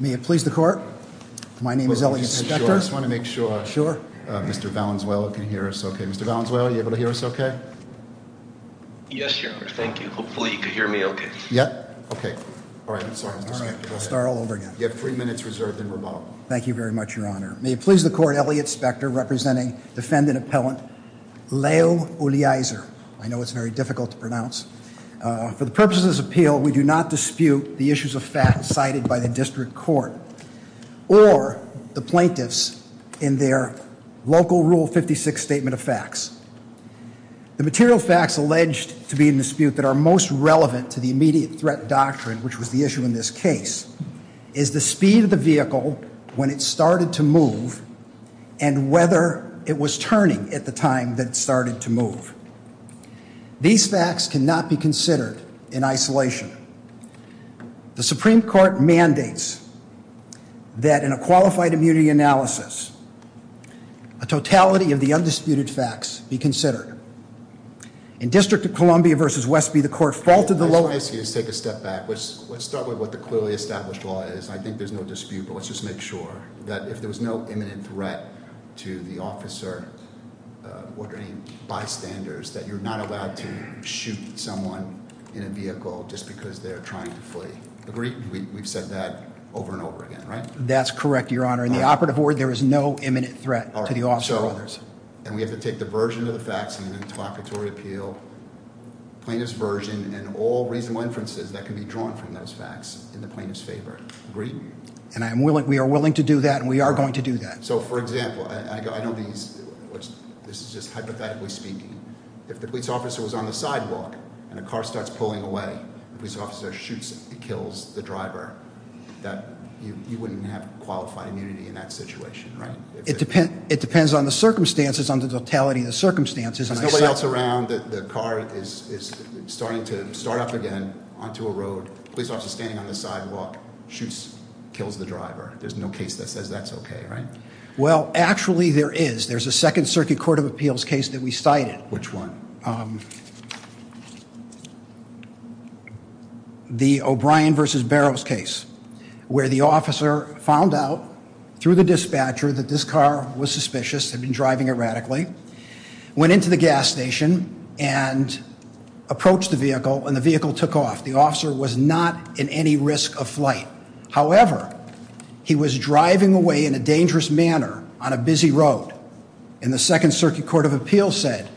May it please the court, my name is Elliot Hector. I just want to make sure Mr. Valenzuela can hear us okay. Mr. Valenzuela, are you able to hear us okay? Yes, Your Honor. Thank you. Hopefully you can hear me okay. Yep. Okay. All right. I'm sorry. I'll start all over again. You have three minutes reserved in rebuttal. Thank you very much, Your Honor. May it please the court, Elliot Specter representing defendant appellant Leo Eulizier. I know it's very difficult to pronounce. For the purposes of this appeal, we do not dispute the issues of facts cited by the district court or the plaintiffs in their local rule 56 statement of facts. The material facts alleged to be in dispute that are most relevant to the immediate threat doctrine, which was the issue in this case, is the speed of the vehicle when it started to move and whether it was turning at the time that it started to move. These facts cannot be considered in isolation. The Supreme Court mandates that in a qualified immunity analysis, a totality of the undisputed facts be considered. In District of Columbia v. Westby, the court faulted the lower... ...that you're not allowed to shoot someone in a vehicle just because they're trying to flee. Agreed? We've said that over and over again, right? That's correct, Your Honor. In the operative ward, there is no imminent threat to the officer or others. And we have to take the version of the facts in the interlocutory appeal, plaintiff's version, and all reasonable inferences that can be drawn from those facts in the plaintiff's favor. Agreed? And we are willing to do that, and we are going to do that. So, for example, I know this is just hypothetically speaking. If the police officer was on the sidewalk and a car starts pulling away, the police officer shoots, kills the driver. You wouldn't have qualified immunity in that situation, right? It depends on the circumstances, on the totality of the circumstances. There's nobody else around. The car is starting to start up again onto a road. The police officer is standing on the sidewalk, shoots, kills the driver. There's no case that says that's okay, right? Well, actually, there is. There's a Second Circuit Court of Appeals case that we cited. Which one? The O'Brien v. Barrows case, where the officer found out through the dispatcher that this car was suspicious, had been driving erratically, went into the gas station and approached the vehicle, and the vehicle took off. The officer was not in any risk of flight. However, he was driving away in a dangerous manner on a busy road. And the Second Circuit Court of Appeals said,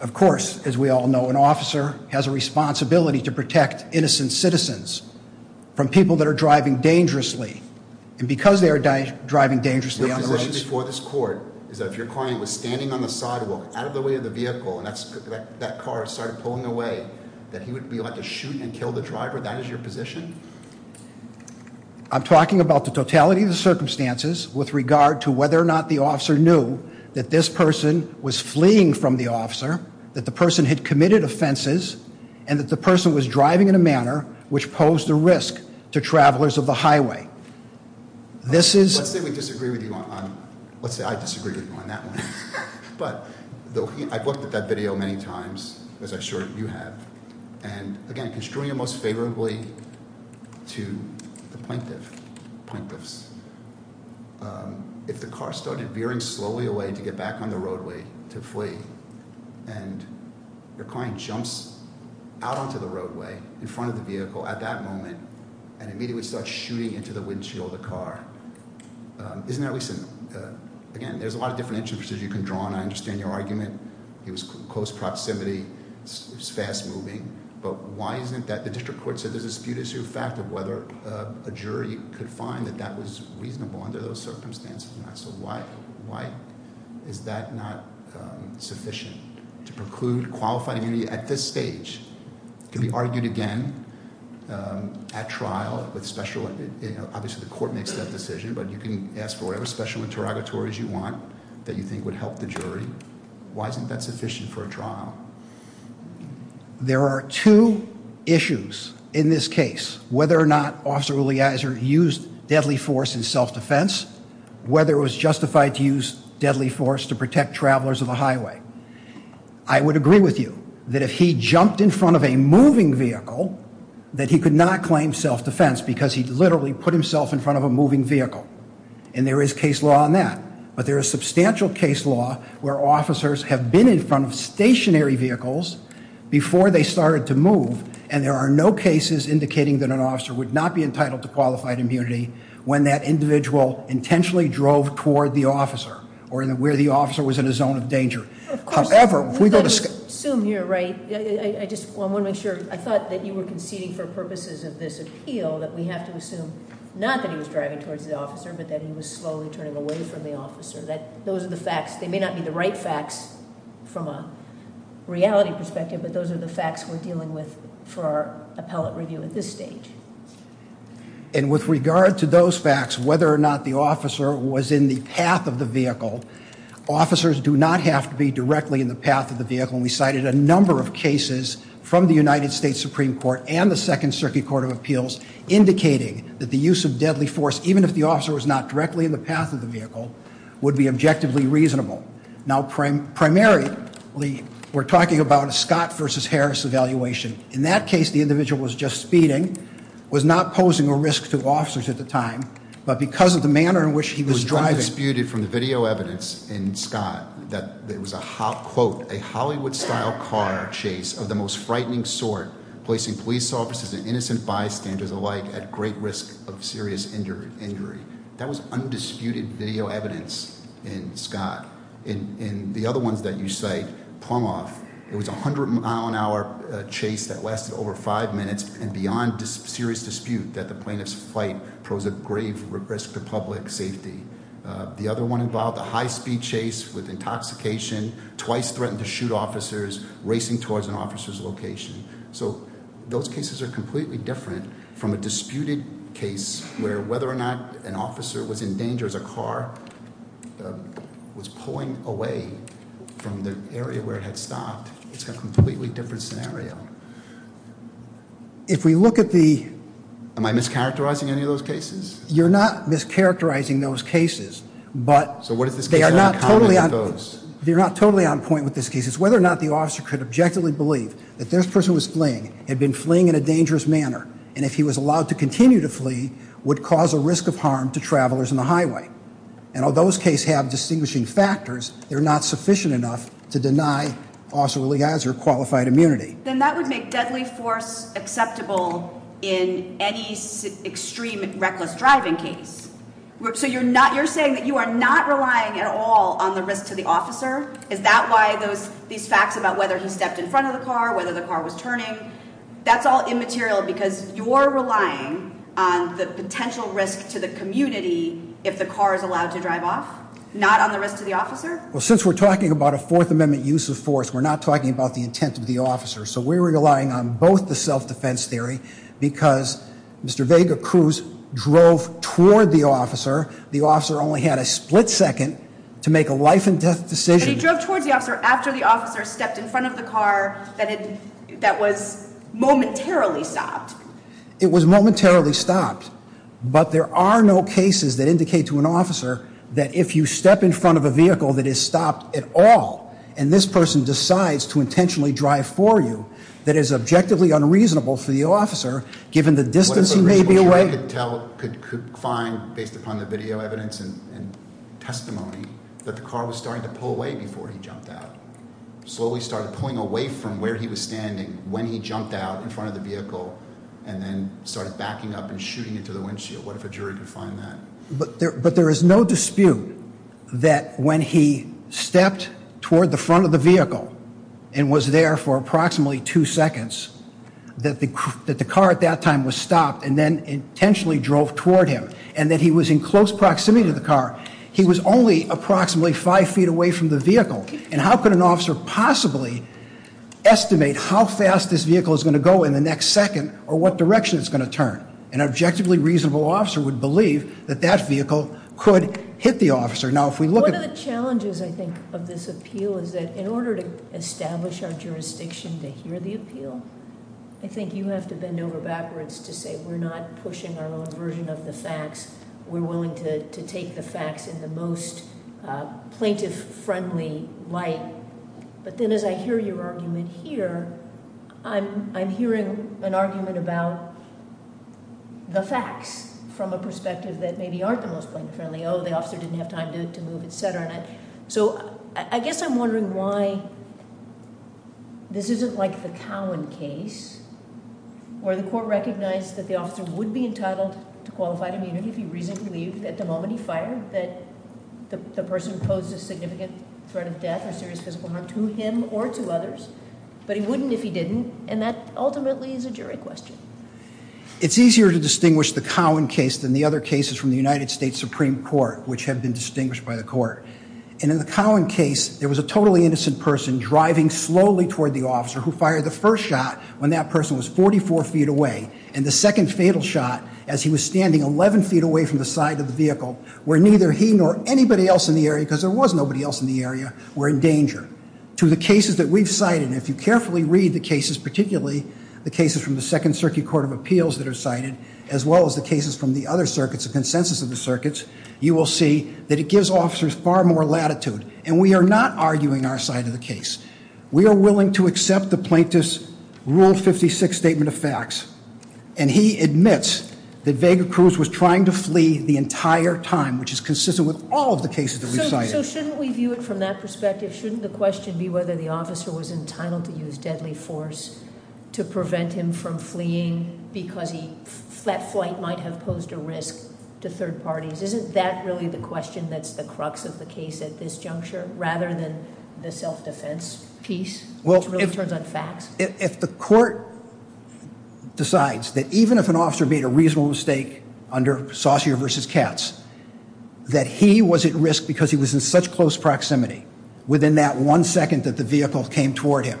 of course, as we all know, an officer has a responsibility to protect innocent citizens from people that are driving dangerously. And because they are driving dangerously on the roads... Your position before this court is that if your client was standing on the sidewalk, out of the way of the vehicle, and that car started pulling away, that he would be allowed to shoot and kill the driver? That is your position? I'm talking about the totality of the circumstances with regard to whether or not the officer knew that this person was fleeing from the officer, that the person had committed offenses, and that the person was driving in a manner which posed a risk to travelers of the highway. This is... Let's say we disagree with you on... Let's say I disagree with you on that one. But I've looked at that video many times, as I'm sure you have. And again, construing it most favorably to the plaintiffs, if the car started veering slowly away to get back on the roadway to flee, and your client jumps out onto the roadway in front of the vehicle at that moment and immediately starts shooting into the windshield of the car, isn't that at least... Again, there's a lot of different intricacies you can draw on. I understand your argument. It was close proximity. It was fast-moving. But why isn't that... The district court said there's a dispute as to the fact of whether a jury could find that that was reasonable under those circumstances. So why is that not sufficient to preclude qualified immunity at this stage? It can be argued again at trial with special... Obviously the court makes that decision, but you can ask for whatever special interrogatories you want that you think would help the jury. Why isn't that sufficient for a trial? There are two issues in this case. Whether or not Officer Uliazer used deadly force in self-defense, whether it was justified to use deadly force to protect travelers on the highway. I would agree with you that if he jumped in front of a moving vehicle, that he could not claim self-defense because he literally put himself in front of a moving vehicle. And there is case law on that. But there is substantial case law where officers have been in front of stationary vehicles before they started to move. And there are no cases indicating that an officer would not be entitled to qualified immunity when that individual intentionally drove toward the officer or where the officer was in a zone of danger. However, if we go to... Assume you're right. I just want to make sure. I thought that you were conceding for purposes of this appeal that we have to assume not that he was driving towards the officer, but that he was slowly turning away from the officer. Those are the facts. They may not be the right facts from a reality perspective, but those are the facts we're dealing with for our appellate review at this stage. And with regard to those facts, whether or not the officer was in the path of the vehicle, officers do not have to be directly in the path of the vehicle. And we cited a number of cases from the United States Supreme Court and the Second Circuit Court of Appeals indicating that the use of deadly force, even if the officer was not directly in the path of the vehicle, would be objectively reasonable. Now, primarily, we're talking about a Scott v. Harris evaluation. In that case, the individual was just speeding, was not posing a risk to officers at the time, but because of the manner in which he was driving... It was undisputed from the video evidence in Scott that it was, quote, a Hollywood-style car chase of the most frightening sort, placing police officers and innocent bystanders alike at great risk of serious injury. That was undisputed video evidence in Scott. In the other ones that you cite, Plumhoff, it was a 100-mile-an-hour chase that lasted over five minutes and beyond serious dispute that the plaintiff's flight posed a grave risk to public safety. The other one involved a high-speed chase with intoxication, twice threatened to shoot officers, racing towards an officer's location. So those cases are completely different from a disputed case where whether or not an officer was in danger as a car was pulling away from the area where it had stopped. It's a completely different scenario. If we look at the... Am I mischaracterizing any of those cases? You're not mischaracterizing those cases, but... So what does this case have in common with those? You're not totally on point with this case. Whether or not the officer could objectively believe that this person was fleeing, had been fleeing in a dangerous manner, and if he was allowed to continue to flee, would cause a risk of harm to travelers on the highway. And although those cases have distinguishing factors, they're not sufficient enough to deny Officer Lee Geiser qualified immunity. Then that would make deadly force acceptable in any extreme reckless driving case. So you're saying that you are not relying at all on the risk to the officer? Is that why these facts about whether he stepped in front of the car, whether the car was turning? That's all immaterial because you're relying on the potential risk to the community if the car is allowed to drive off, not on the risk to the officer? Well, since we're talking about a Fourth Amendment use of force, we're not talking about the intent of the officer. So we're relying on both the self-defense theory because Mr. Vega Cruz drove toward the officer. The officer only had a split second to make a life and death decision. And he drove toward the officer after the officer stepped in front of the car that was momentarily stopped. It was momentarily stopped. But there are no cases that indicate to an officer that if you step in front of a vehicle that is stopped at all and this person decides to intentionally drive for you, that is objectively unreasonable for the officer given the distance he may be away. The jury could find, based upon the video evidence and testimony, that the car was starting to pull away before he jumped out. Slowly started pulling away from where he was standing when he jumped out in front of the vehicle and then started backing up and shooting into the windshield. What if a jury could find that? But there is no dispute that when he stepped toward the front of the vehicle and was there for approximately two seconds, that the car at that time was stopped and then intentionally drove toward him and that he was in close proximity to the car. He was only approximately five feet away from the vehicle. And how could an officer possibly estimate how fast this vehicle is going to go in the next second or what direction it's going to turn? An objectively reasonable officer would believe that that vehicle could hit the officer. One of the challenges, I think, of this appeal is that in order to establish our jurisdiction to hear the appeal, I think you have to bend over backwards to say we're not pushing our own version of the facts. We're willing to take the facts in the most plaintiff-friendly light. But then as I hear your argument here, I'm hearing an argument about the facts from a perspective that maybe aren't the most plaintiff-friendly. Oh, the officer didn't have time to move, et cetera. So I guess I'm wondering why this isn't like the Cowan case where the court recognized that the officer would be entitled to qualified immunity if he reasonably believed that the moment he fired that the person posed a significant threat of death or serious physical harm to him or to others, but he wouldn't if he didn't, and that ultimately is a jury question. It's easier to distinguish the Cowan case than the other cases from the United States Supreme Court, which have been distinguished by the court. And in the Cowan case, there was a totally innocent person driving slowly toward the officer who fired the first shot when that person was 44 feet away, and the second fatal shot as he was standing 11 feet away from the side of the vehicle where neither he nor anybody else in the area, because there was nobody else in the area, were in danger. To the cases that we've cited, and if you carefully read the cases, particularly the cases from the Second Circuit Court of Appeals that are cited, as well as the cases from the other circuits, the consensus of the circuits, you will see that it gives officers far more latitude. And we are not arguing our side of the case. We are willing to accept the plaintiff's Rule 56 statement of facts, and he admits that Vega Cruz was trying to flee the entire time, which is consistent with all of the cases that we've cited. So shouldn't we view it from that perspective? Shouldn't the question be whether the officer was entitled to use deadly force to prevent him from fleeing because that flight might have posed a risk to third parties? Isn't that really the question that's the crux of the case at this juncture, rather than the self-defense piece, which really turns on facts? If the court decides that even if an officer made a reasonable mistake under Saucier v. Katz, that he was at risk because he was in such close proximity within that one second that the vehicle came toward him,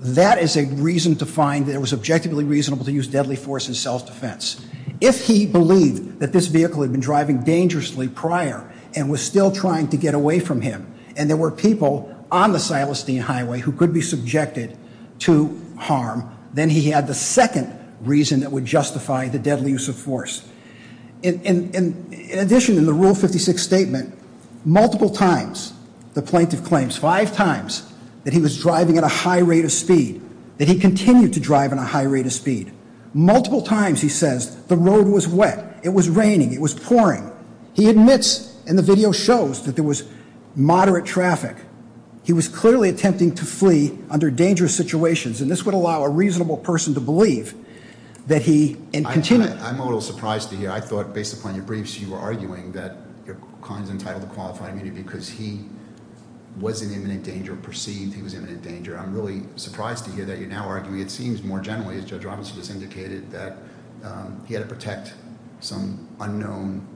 that is a reason to find that it was objectively reasonable to use deadly force in self-defense. If he believed that this vehicle had been driving dangerously prior and was still trying to get away from him, and there were people on the Silestine Highway who could be subjected to harm, then he had the second reason that would justify the deadly use of force. In addition, in the Rule 56 statement, multiple times the plaintiff claims, five times, that he was driving at a high rate of speed, that he continued to drive at a high rate of speed. Multiple times he says the road was wet, it was raining, it was pouring. He admits, and the video shows, that there was moderate traffic. He was clearly attempting to flee under dangerous situations, and this would allow a reasonable person to believe that he had continued. I'm a little surprised to hear. I thought, based upon your briefs, you were arguing that your client is entitled to qualified immunity because he was in imminent danger, perceived he was in imminent danger. I'm really surprised to hear that you're now arguing, it seems more generally, as Judge Robinson just indicated, that he had to protect some unknown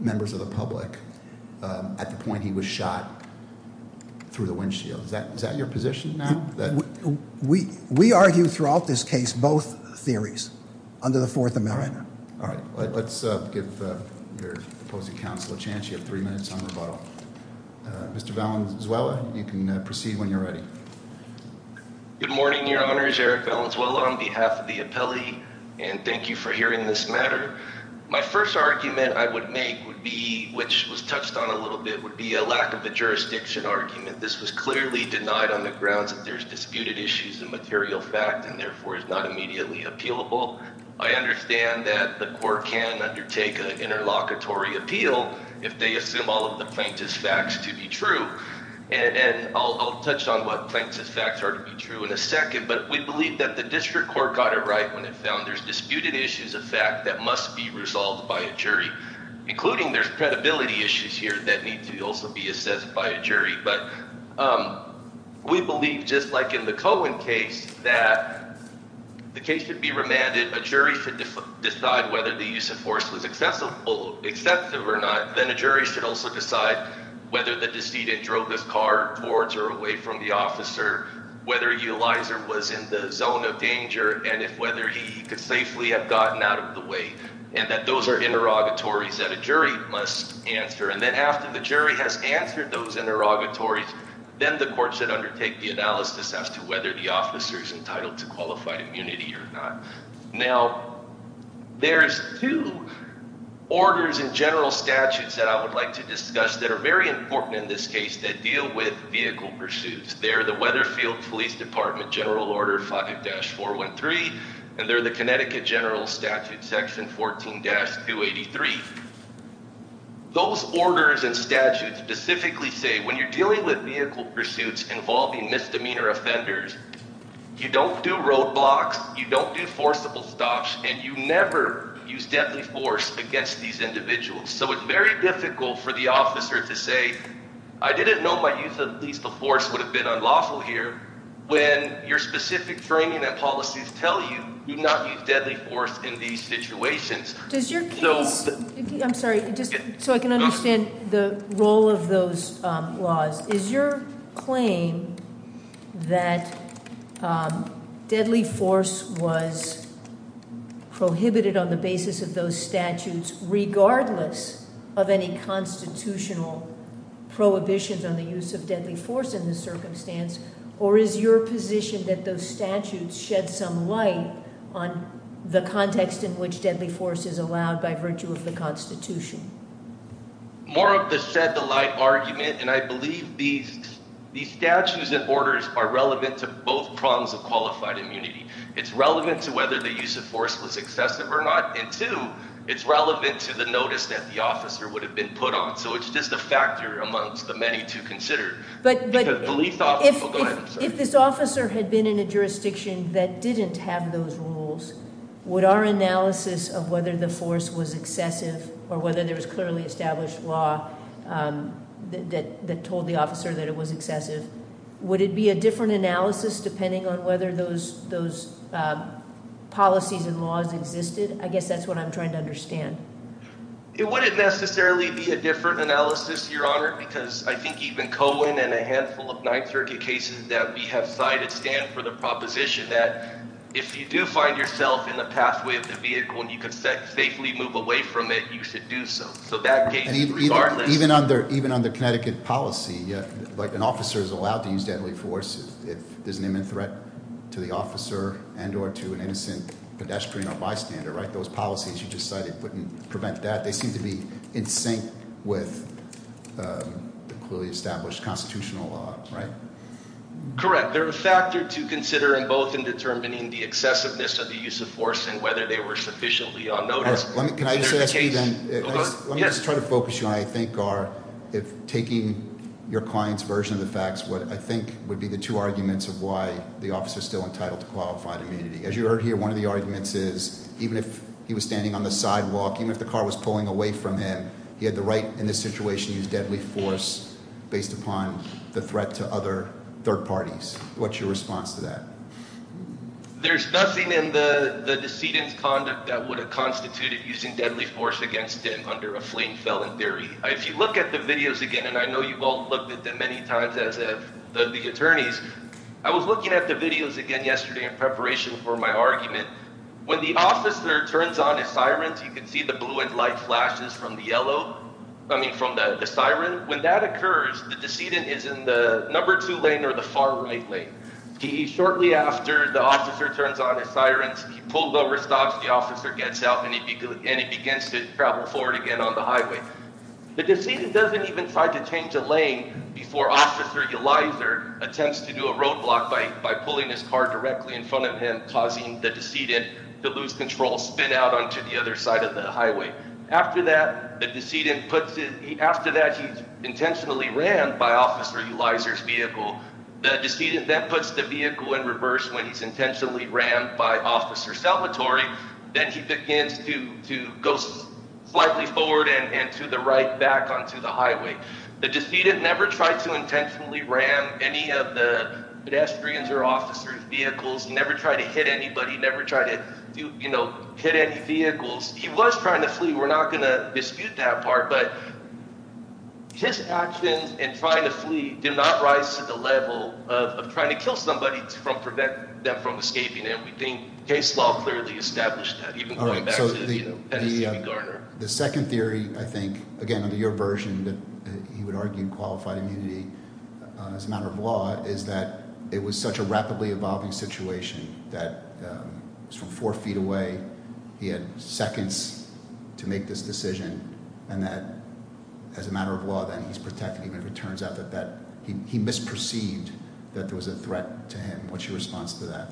members of the public at the point he was shot through the windshield. Is that your position now? We argue throughout this case both theories under the Fourth Amendment. Let's give your opposing counsel a chance. You have three minutes on rebuttal. Mr. Valenzuela, you can proceed when you're ready. Good morning, Your Honors. Eric Valenzuela on behalf of the appellee, and thank you for hearing this matter. My first argument I would make, which was touched on a little bit, would be a lack of a jurisdiction argument. This was clearly denied on the grounds that there's disputed issues in material fact and, therefore, is not immediately appealable. I understand that the court can undertake an interlocutory appeal if they assume all of the plaintiff's facts to be true. I'll touch on what plaintiff's facts are to be true in a second, but we believe that the district court got it right when it found there's disputed issues of fact that must be resolved by a jury, including there's credibility issues here that need to also be assessed by a jury. But we believe, just like in the Cohen case, that the case should be remanded. A jury should decide whether the use of force was excessive or not. Then a jury should also decide whether the decedent drove his car towards or away from the officer, whether a utilizer was in the zone of danger, and if whether he could safely have gotten out of the way, and that those are interrogatories that a jury must answer. And then after the jury has answered those interrogatories, then the court should undertake the analysis as to whether the officer is entitled to qualified immunity or not. Now, there's two orders in general statutes that I would like to discuss that are very important in this case that deal with vehicle pursuits. They're the Weatherfield Police Department General Order 5-413, and they're the Connecticut General Statute Section 14-283. Those orders and statutes specifically say when you're dealing with vehicle pursuits involving misdemeanor offenders, you don't do roadblocks, you don't do forcible stops, and you never use deadly force against these individuals. So it's very difficult for the officer to say, I didn't know my use of lethal force would have been unlawful here, when your specific training and policies tell you you do not use deadly force in these situations. Does your case- I'm sorry, just so I can understand the role of those laws. Is your claim that deadly force was prohibited on the basis of those statutes regardless of any constitutional prohibitions on the use of deadly force in this circumstance, or is your position that those statutes shed some light on the context in which deadly force is allowed by virtue of the Constitution? More of the shed the light argument, and I believe these statutes and orders are relevant to both prongs of qualified immunity. It's relevant to whether the use of force was excessive or not, and two, it's relevant to the notice that the officer would have been put on. So it's just a factor amongst the many to consider. If this officer had been in a jurisdiction that didn't have those rules, would our analysis of whether the force was excessive, or whether there was clearly established law that told the officer that it was excessive, would it be a different analysis depending on whether those policies and laws existed? I guess that's what I'm trying to understand. It wouldn't necessarily be a different analysis, Your Honor, because I think even Cohen and a handful of 9th Circuit cases that we have cited stand for the proposition that if you do find yourself in the pathway of the vehicle and you can safely move away from it, you should do so. So that case, regardless— Even under Connecticut policy, like an officer is allowed to use deadly force if there's an imminent threat to the officer and or to an innocent pedestrian or bystander, right? If those policies you just cited wouldn't prevent that, they seem to be in sync with the clearly established constitutional law, right? Correct. They're a factor to consider in both in determining the excessiveness of the use of force and whether they were sufficiently on notice. Can I just ask you then? Let me just try to focus you on I think are, if taking your client's version of the facts, what I think would be the two arguments of why the officer is still entitled to qualified immunity. As you heard here, one of the arguments is even if he was standing on the sidewalk, even if the car was pulling away from him, he had the right in this situation to use deadly force based upon the threat to other third parties. What's your response to that? There's nothing in the decedent's conduct that would have constituted using deadly force against him under a flame felon theory. If you look at the videos again, and I know you've all looked at them many times as have the attorneys, I was looking at the videos again yesterday in preparation for my argument. When the officer turns on his sirens, you can see the blue and light flashes from the yellow, I mean from the siren. When that occurs, the decedent is in the number two lane or the far right lane. Shortly after the officer turns on his sirens, he pulled over, stops, the officer gets out, and he begins to travel forward again on the highway. The decedent doesn't even try to change a lane before Officer Ulizer attempts to do a roadblock by pulling his car directly in front of him, causing the decedent to lose control, spin out onto the other side of the highway. After that, he's intentionally rammed by Officer Ulizer's vehicle. The decedent then puts the vehicle in reverse when he's intentionally rammed by Officer Salvatore. Then he begins to go slightly forward and to the right back onto the highway. The decedent never tried to intentionally ram any of the pedestrians or officers' vehicles, never tried to hit anybody, never tried to hit any vehicles. He was trying to flee, we're not going to dispute that part, but his actions in trying to flee do not rise to the level of trying to kill somebody to prevent them from escaping, and we think case law clearly established that, even going back to Garner. The second theory, I think, again, under your version that he would argue qualified immunity as a matter of law, is that it was such a rapidly evolving situation that from four feet away, he had seconds to make this decision, and that as a matter of law, then he's protecting him if it turns out that he misperceived that there was a threat to him. What's your response to that?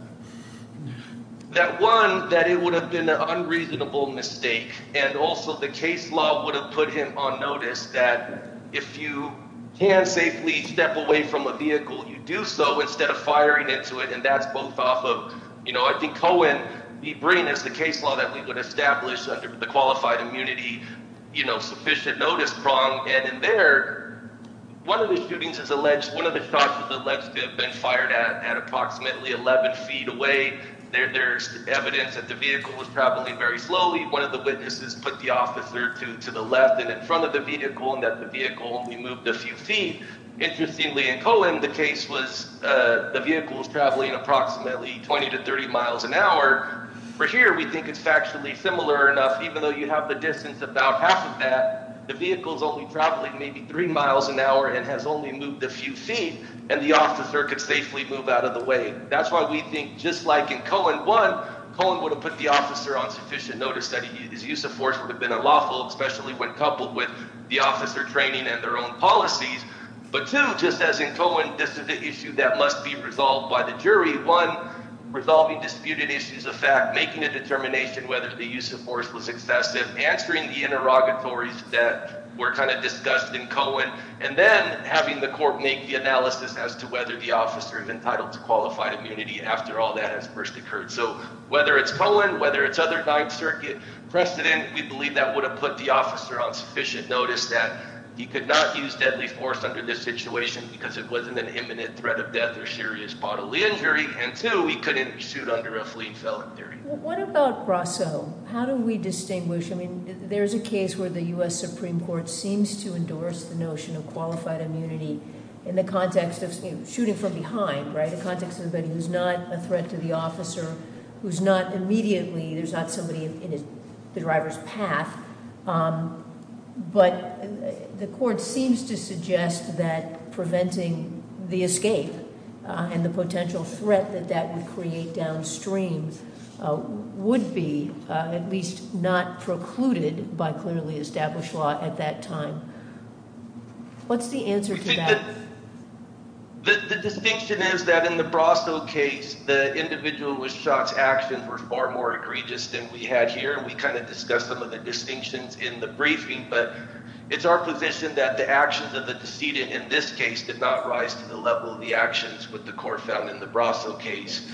That one, that it would have been an unreasonable mistake, and also the case law would have put him on notice that if you can safely step away from a vehicle, you do so instead of firing into it, and that's both off of, you know, I think Cohen, he brings us the case law that we would establish under the qualified immunity, you know, sufficient notice prong, and in there, one of the shootings is alleged, one of the shots was alleged to have been fired at approximately 11 feet away. There's evidence that the vehicle was traveling very slowly. One of the witnesses put the officer to the left and in front of the vehicle, and that the vehicle only moved a few feet. Interestingly, in Cohen, the case was the vehicle was traveling approximately 20 to 30 miles an hour. For here, we think it's factually similar enough, even though you have the distance about half of that, the vehicle's only traveling maybe three miles an hour and has only moved a few feet, and the officer could safely move out of the way. That's why we think just like in Cohen, one, Cohen would have put the officer on sufficient notice that his use of force would have been unlawful, especially when coupled with the officer training and their own policies, but two, just as in Cohen, this is an issue that must be resolved by the jury. One, resolving disputed issues of fact, making a determination whether the use of force was excessive, answering the interrogatories that were kind of discussed in Cohen, and then having the court make the analysis as to whether the officer is entitled to qualified immunity after all that has first occurred. So whether it's Cohen, whether it's other Ninth Circuit precedent, we believe that would have put the officer on sufficient notice that he could not use deadly force under this situation because it wasn't an imminent threat of death or serious bodily injury, and two, he couldn't be sued under a fleet felon theory. What about Brasso? How do we distinguish? I mean there's a case where the U.S. Supreme Court seems to endorse the notion of qualified immunity in the context of shooting from behind, right, in the context of somebody who's not a threat to the officer, who's not immediately, there's not somebody in the driver's path, but the court seems to suggest that preventing the escape and the potential threat that that would create downstream would be at least not precluded by clearly established law at that time. What's the answer to that? The distinction is that in the Brasso case, the individual who was shot's actions were far more egregious than we had here, and we kind of discussed some of the distinctions in the briefing, but it's our position that the actions of the decedent in this case did not rise to the level of the actions that the court found in the Brasso case,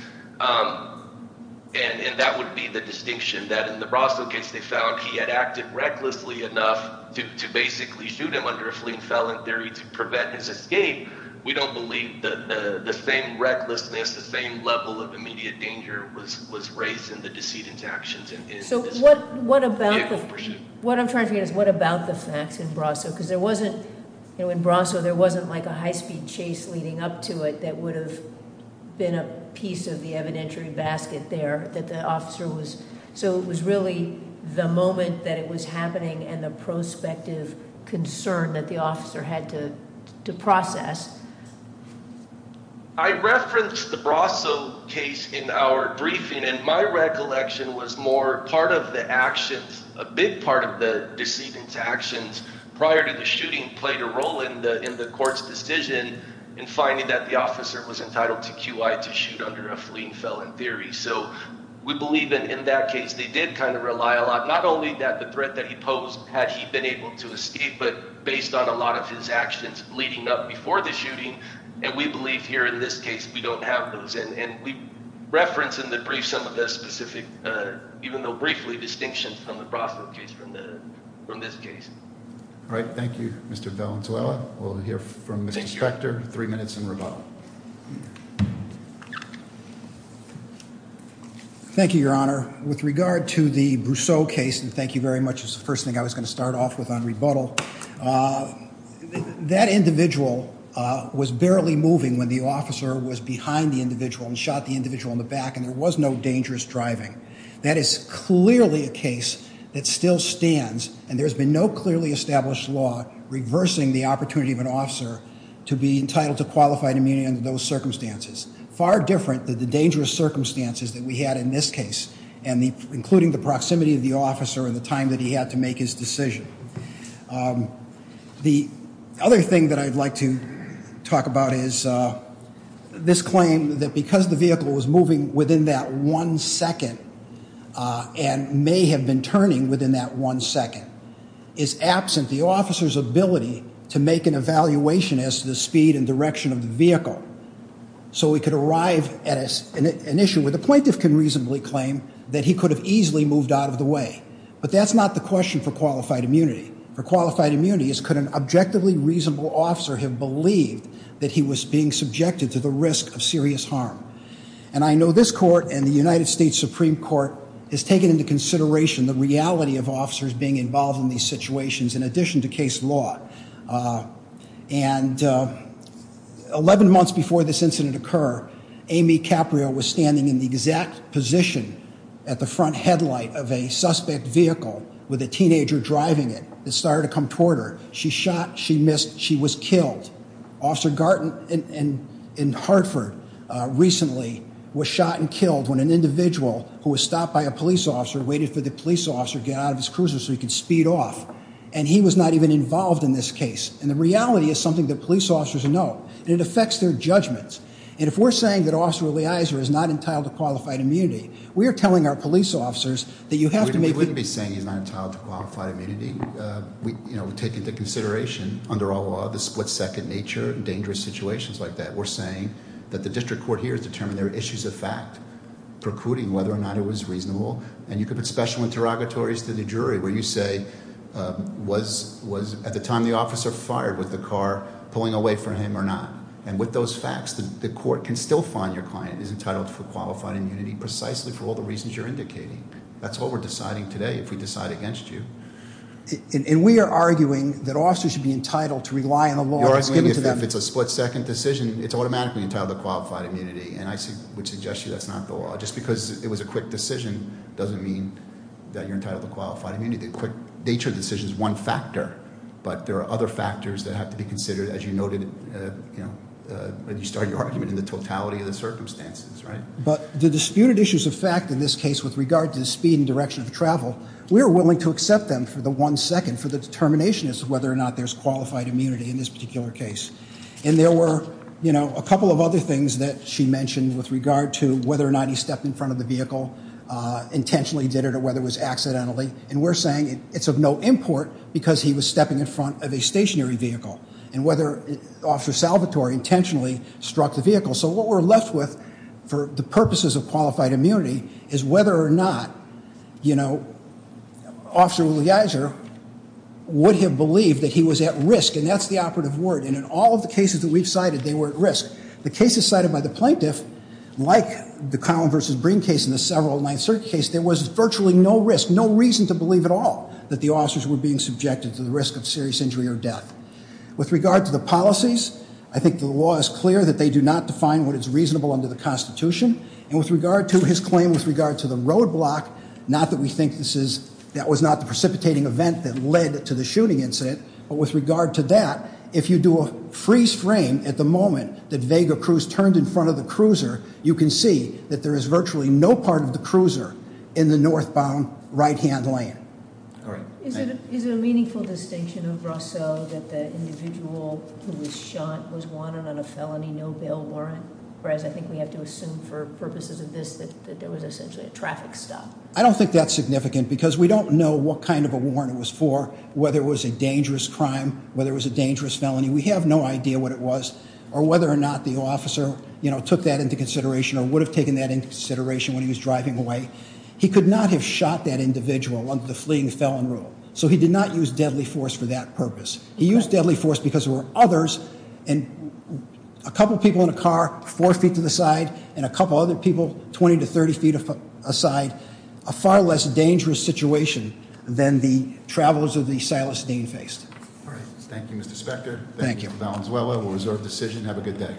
and that would be the distinction that in the Brasso case they found he had acted recklessly enough to basically shoot him under a fleet felon theory to prevent his escape. We don't believe that the same recklessness, the same level of immediate danger was raised in the decedent's actions in this vehicle of pursuit. What I'm trying to figure out is what about the facts in Brasso, because in Brasso there wasn't like a high-speed chase leading up to it that would have been a piece of the evidentiary basket there that the officer was, so it was really the moment that it was happening and the prospective concern that the officer had to process. I referenced the Brasso case in our briefing, and my recollection was more part of the actions, a big part of the decedent's actions prior to the shooting played a role in the court's decision in finding that the officer was entitled to QI to shoot under a fleet felon theory, so we believe that in that case they did kind of rely a lot, not only that the threat that he posed had he been able to escape, but based on a lot of his actions leading up before the shooting, and we believe here in this case we don't have those, and we reference in the brief some of the specific, even though briefly, distinctions from the Brasso case, from this case. All right. Thank you, Mr. Valenzuela. We'll hear from Mr. Spector. Three minutes and rebuttal. Thank you, Your Honor. With regard to the Brousseau case, and thank you very much is the first thing I was going to start off with on rebuttal, that individual was barely moving when the officer was behind the individual and shot the individual in the back, and there was no dangerous driving. That is clearly a case that still stands, and there's been no clearly established law reversing the opportunity of an officer to be entitled to qualified immunity under those circumstances. Far different than the dangerous circumstances that we had in this case, including the proximity of the officer and the time that he had to make his decision. The other thing that I'd like to talk about is this claim that because the vehicle was moving within that one second and may have been turning within that one second, is absent the officer's ability to make an evaluation as to the speed and direction of the vehicle so we could arrive at an issue where the plaintiff can reasonably claim that he could have easily moved out of the way. But that's not the question for qualified immunity. For qualified immunity, it's could an objectively reasonable officer have believed that he was being subjected to the risk of serious harm. And I know this court and the United States Supreme Court has taken into consideration the reality of officers being involved in these situations in addition to case law. And 11 months before this incident occurred, Amy Caprio was standing in the exact position at the front headlight of a suspect vehicle with a teenager driving it. It started to come toward her. She shot, she missed, she was killed. Officer Garten in Hartford recently was shot and killed when an individual who was stopped by a police officer waited for the police officer to get out of his cruiser so he could speed off. And he was not even involved in this case. And the reality is something that police officers know. And it affects their judgments. And if we're saying that Officer Eliezer is not entitled to qualified immunity, we are telling our police officers that you have to make... We wouldn't be saying he's not entitled to qualified immunity. We take into consideration under our law the split-second nature in dangerous situations like that. We're saying that the district court here has determined there are issues of fact precluding whether or not it was reasonable. And you could put special interrogatories to the jury where you say was at the time the officer fired, was the car pulling away from him or not? And with those facts, the court can still find your client is entitled to qualified immunity precisely for all the reasons you're indicating. That's what we're deciding today if we decide against you. And we are arguing that officers should be entitled to rely on the law that's given to them. You're arguing if it's a split-second decision, it's automatically entitled to qualified immunity. And I would suggest to you that's not the law. Just because it was a quick decision doesn't mean that you're entitled to qualified immunity. The quick nature of the decision is one factor, but there are other factors that have to be considered as you noted, you know, when you started your argument in the totality of the circumstances, right? But the disputed issues of fact in this case with regard to the speed and direction of travel, we are willing to accept them for the one second for the determination as to whether or not there's qualified immunity in this particular case. And there were, you know, a couple of other things that she mentioned with regard to whether or not he stepped in front of the vehicle, intentionally did it or whether it was accidentally. And we're saying it's of no import because he was stepping in front of a stationary vehicle and whether Officer Salvatore intentionally struck the vehicle. So what we're left with for the purposes of qualified immunity is whether or not, you know, Officer Leiser would have believed that he was at risk. And that's the operative word. And in all of the cases that we've cited, they were at risk. The cases cited by the plaintiff, like the Collin versus Breen case and the several of 9th Circuit case, there was virtually no risk, no reason to believe at all that the officers were being subjected to the risk of serious injury or death. With regard to the policies, I think the law is clear that they do not define what is reasonable under the Constitution. And with regard to his claim with regard to the roadblock, not that we think that was not the precipitating event that led to the shooting incident, but with regard to that, if you do a freeze frame at the moment that Vega Cruz turned in front of the cruiser, you can see that there is virtually no part of the cruiser in the northbound right-hand lane. Is it a meaningful distinction of Rousseau that the individual who was shot was wanted on a felony, no bail warrant, whereas I think we have to assume for purposes of this that there was essentially a traffic stop? I don't think that's significant because we don't know what kind of a warrant it was for, whether it was a dangerous crime, whether it was a dangerous felony. We have no idea what it was or whether or not the officer took that into consideration or would have taken that into consideration when he was driving away. He could not have shot that individual under the fleeing felon rule, so he did not use deadly force for that purpose. He used deadly force because there were others and a couple people in a car four feet to the side and a couple other people 20 to 30 feet aside, a far less dangerous situation than the travels of the Silas Dean faced. Thank you, Mr. Spector. Thank you, Mr. Valenzuela. We'll reserve the decision. Have a good day.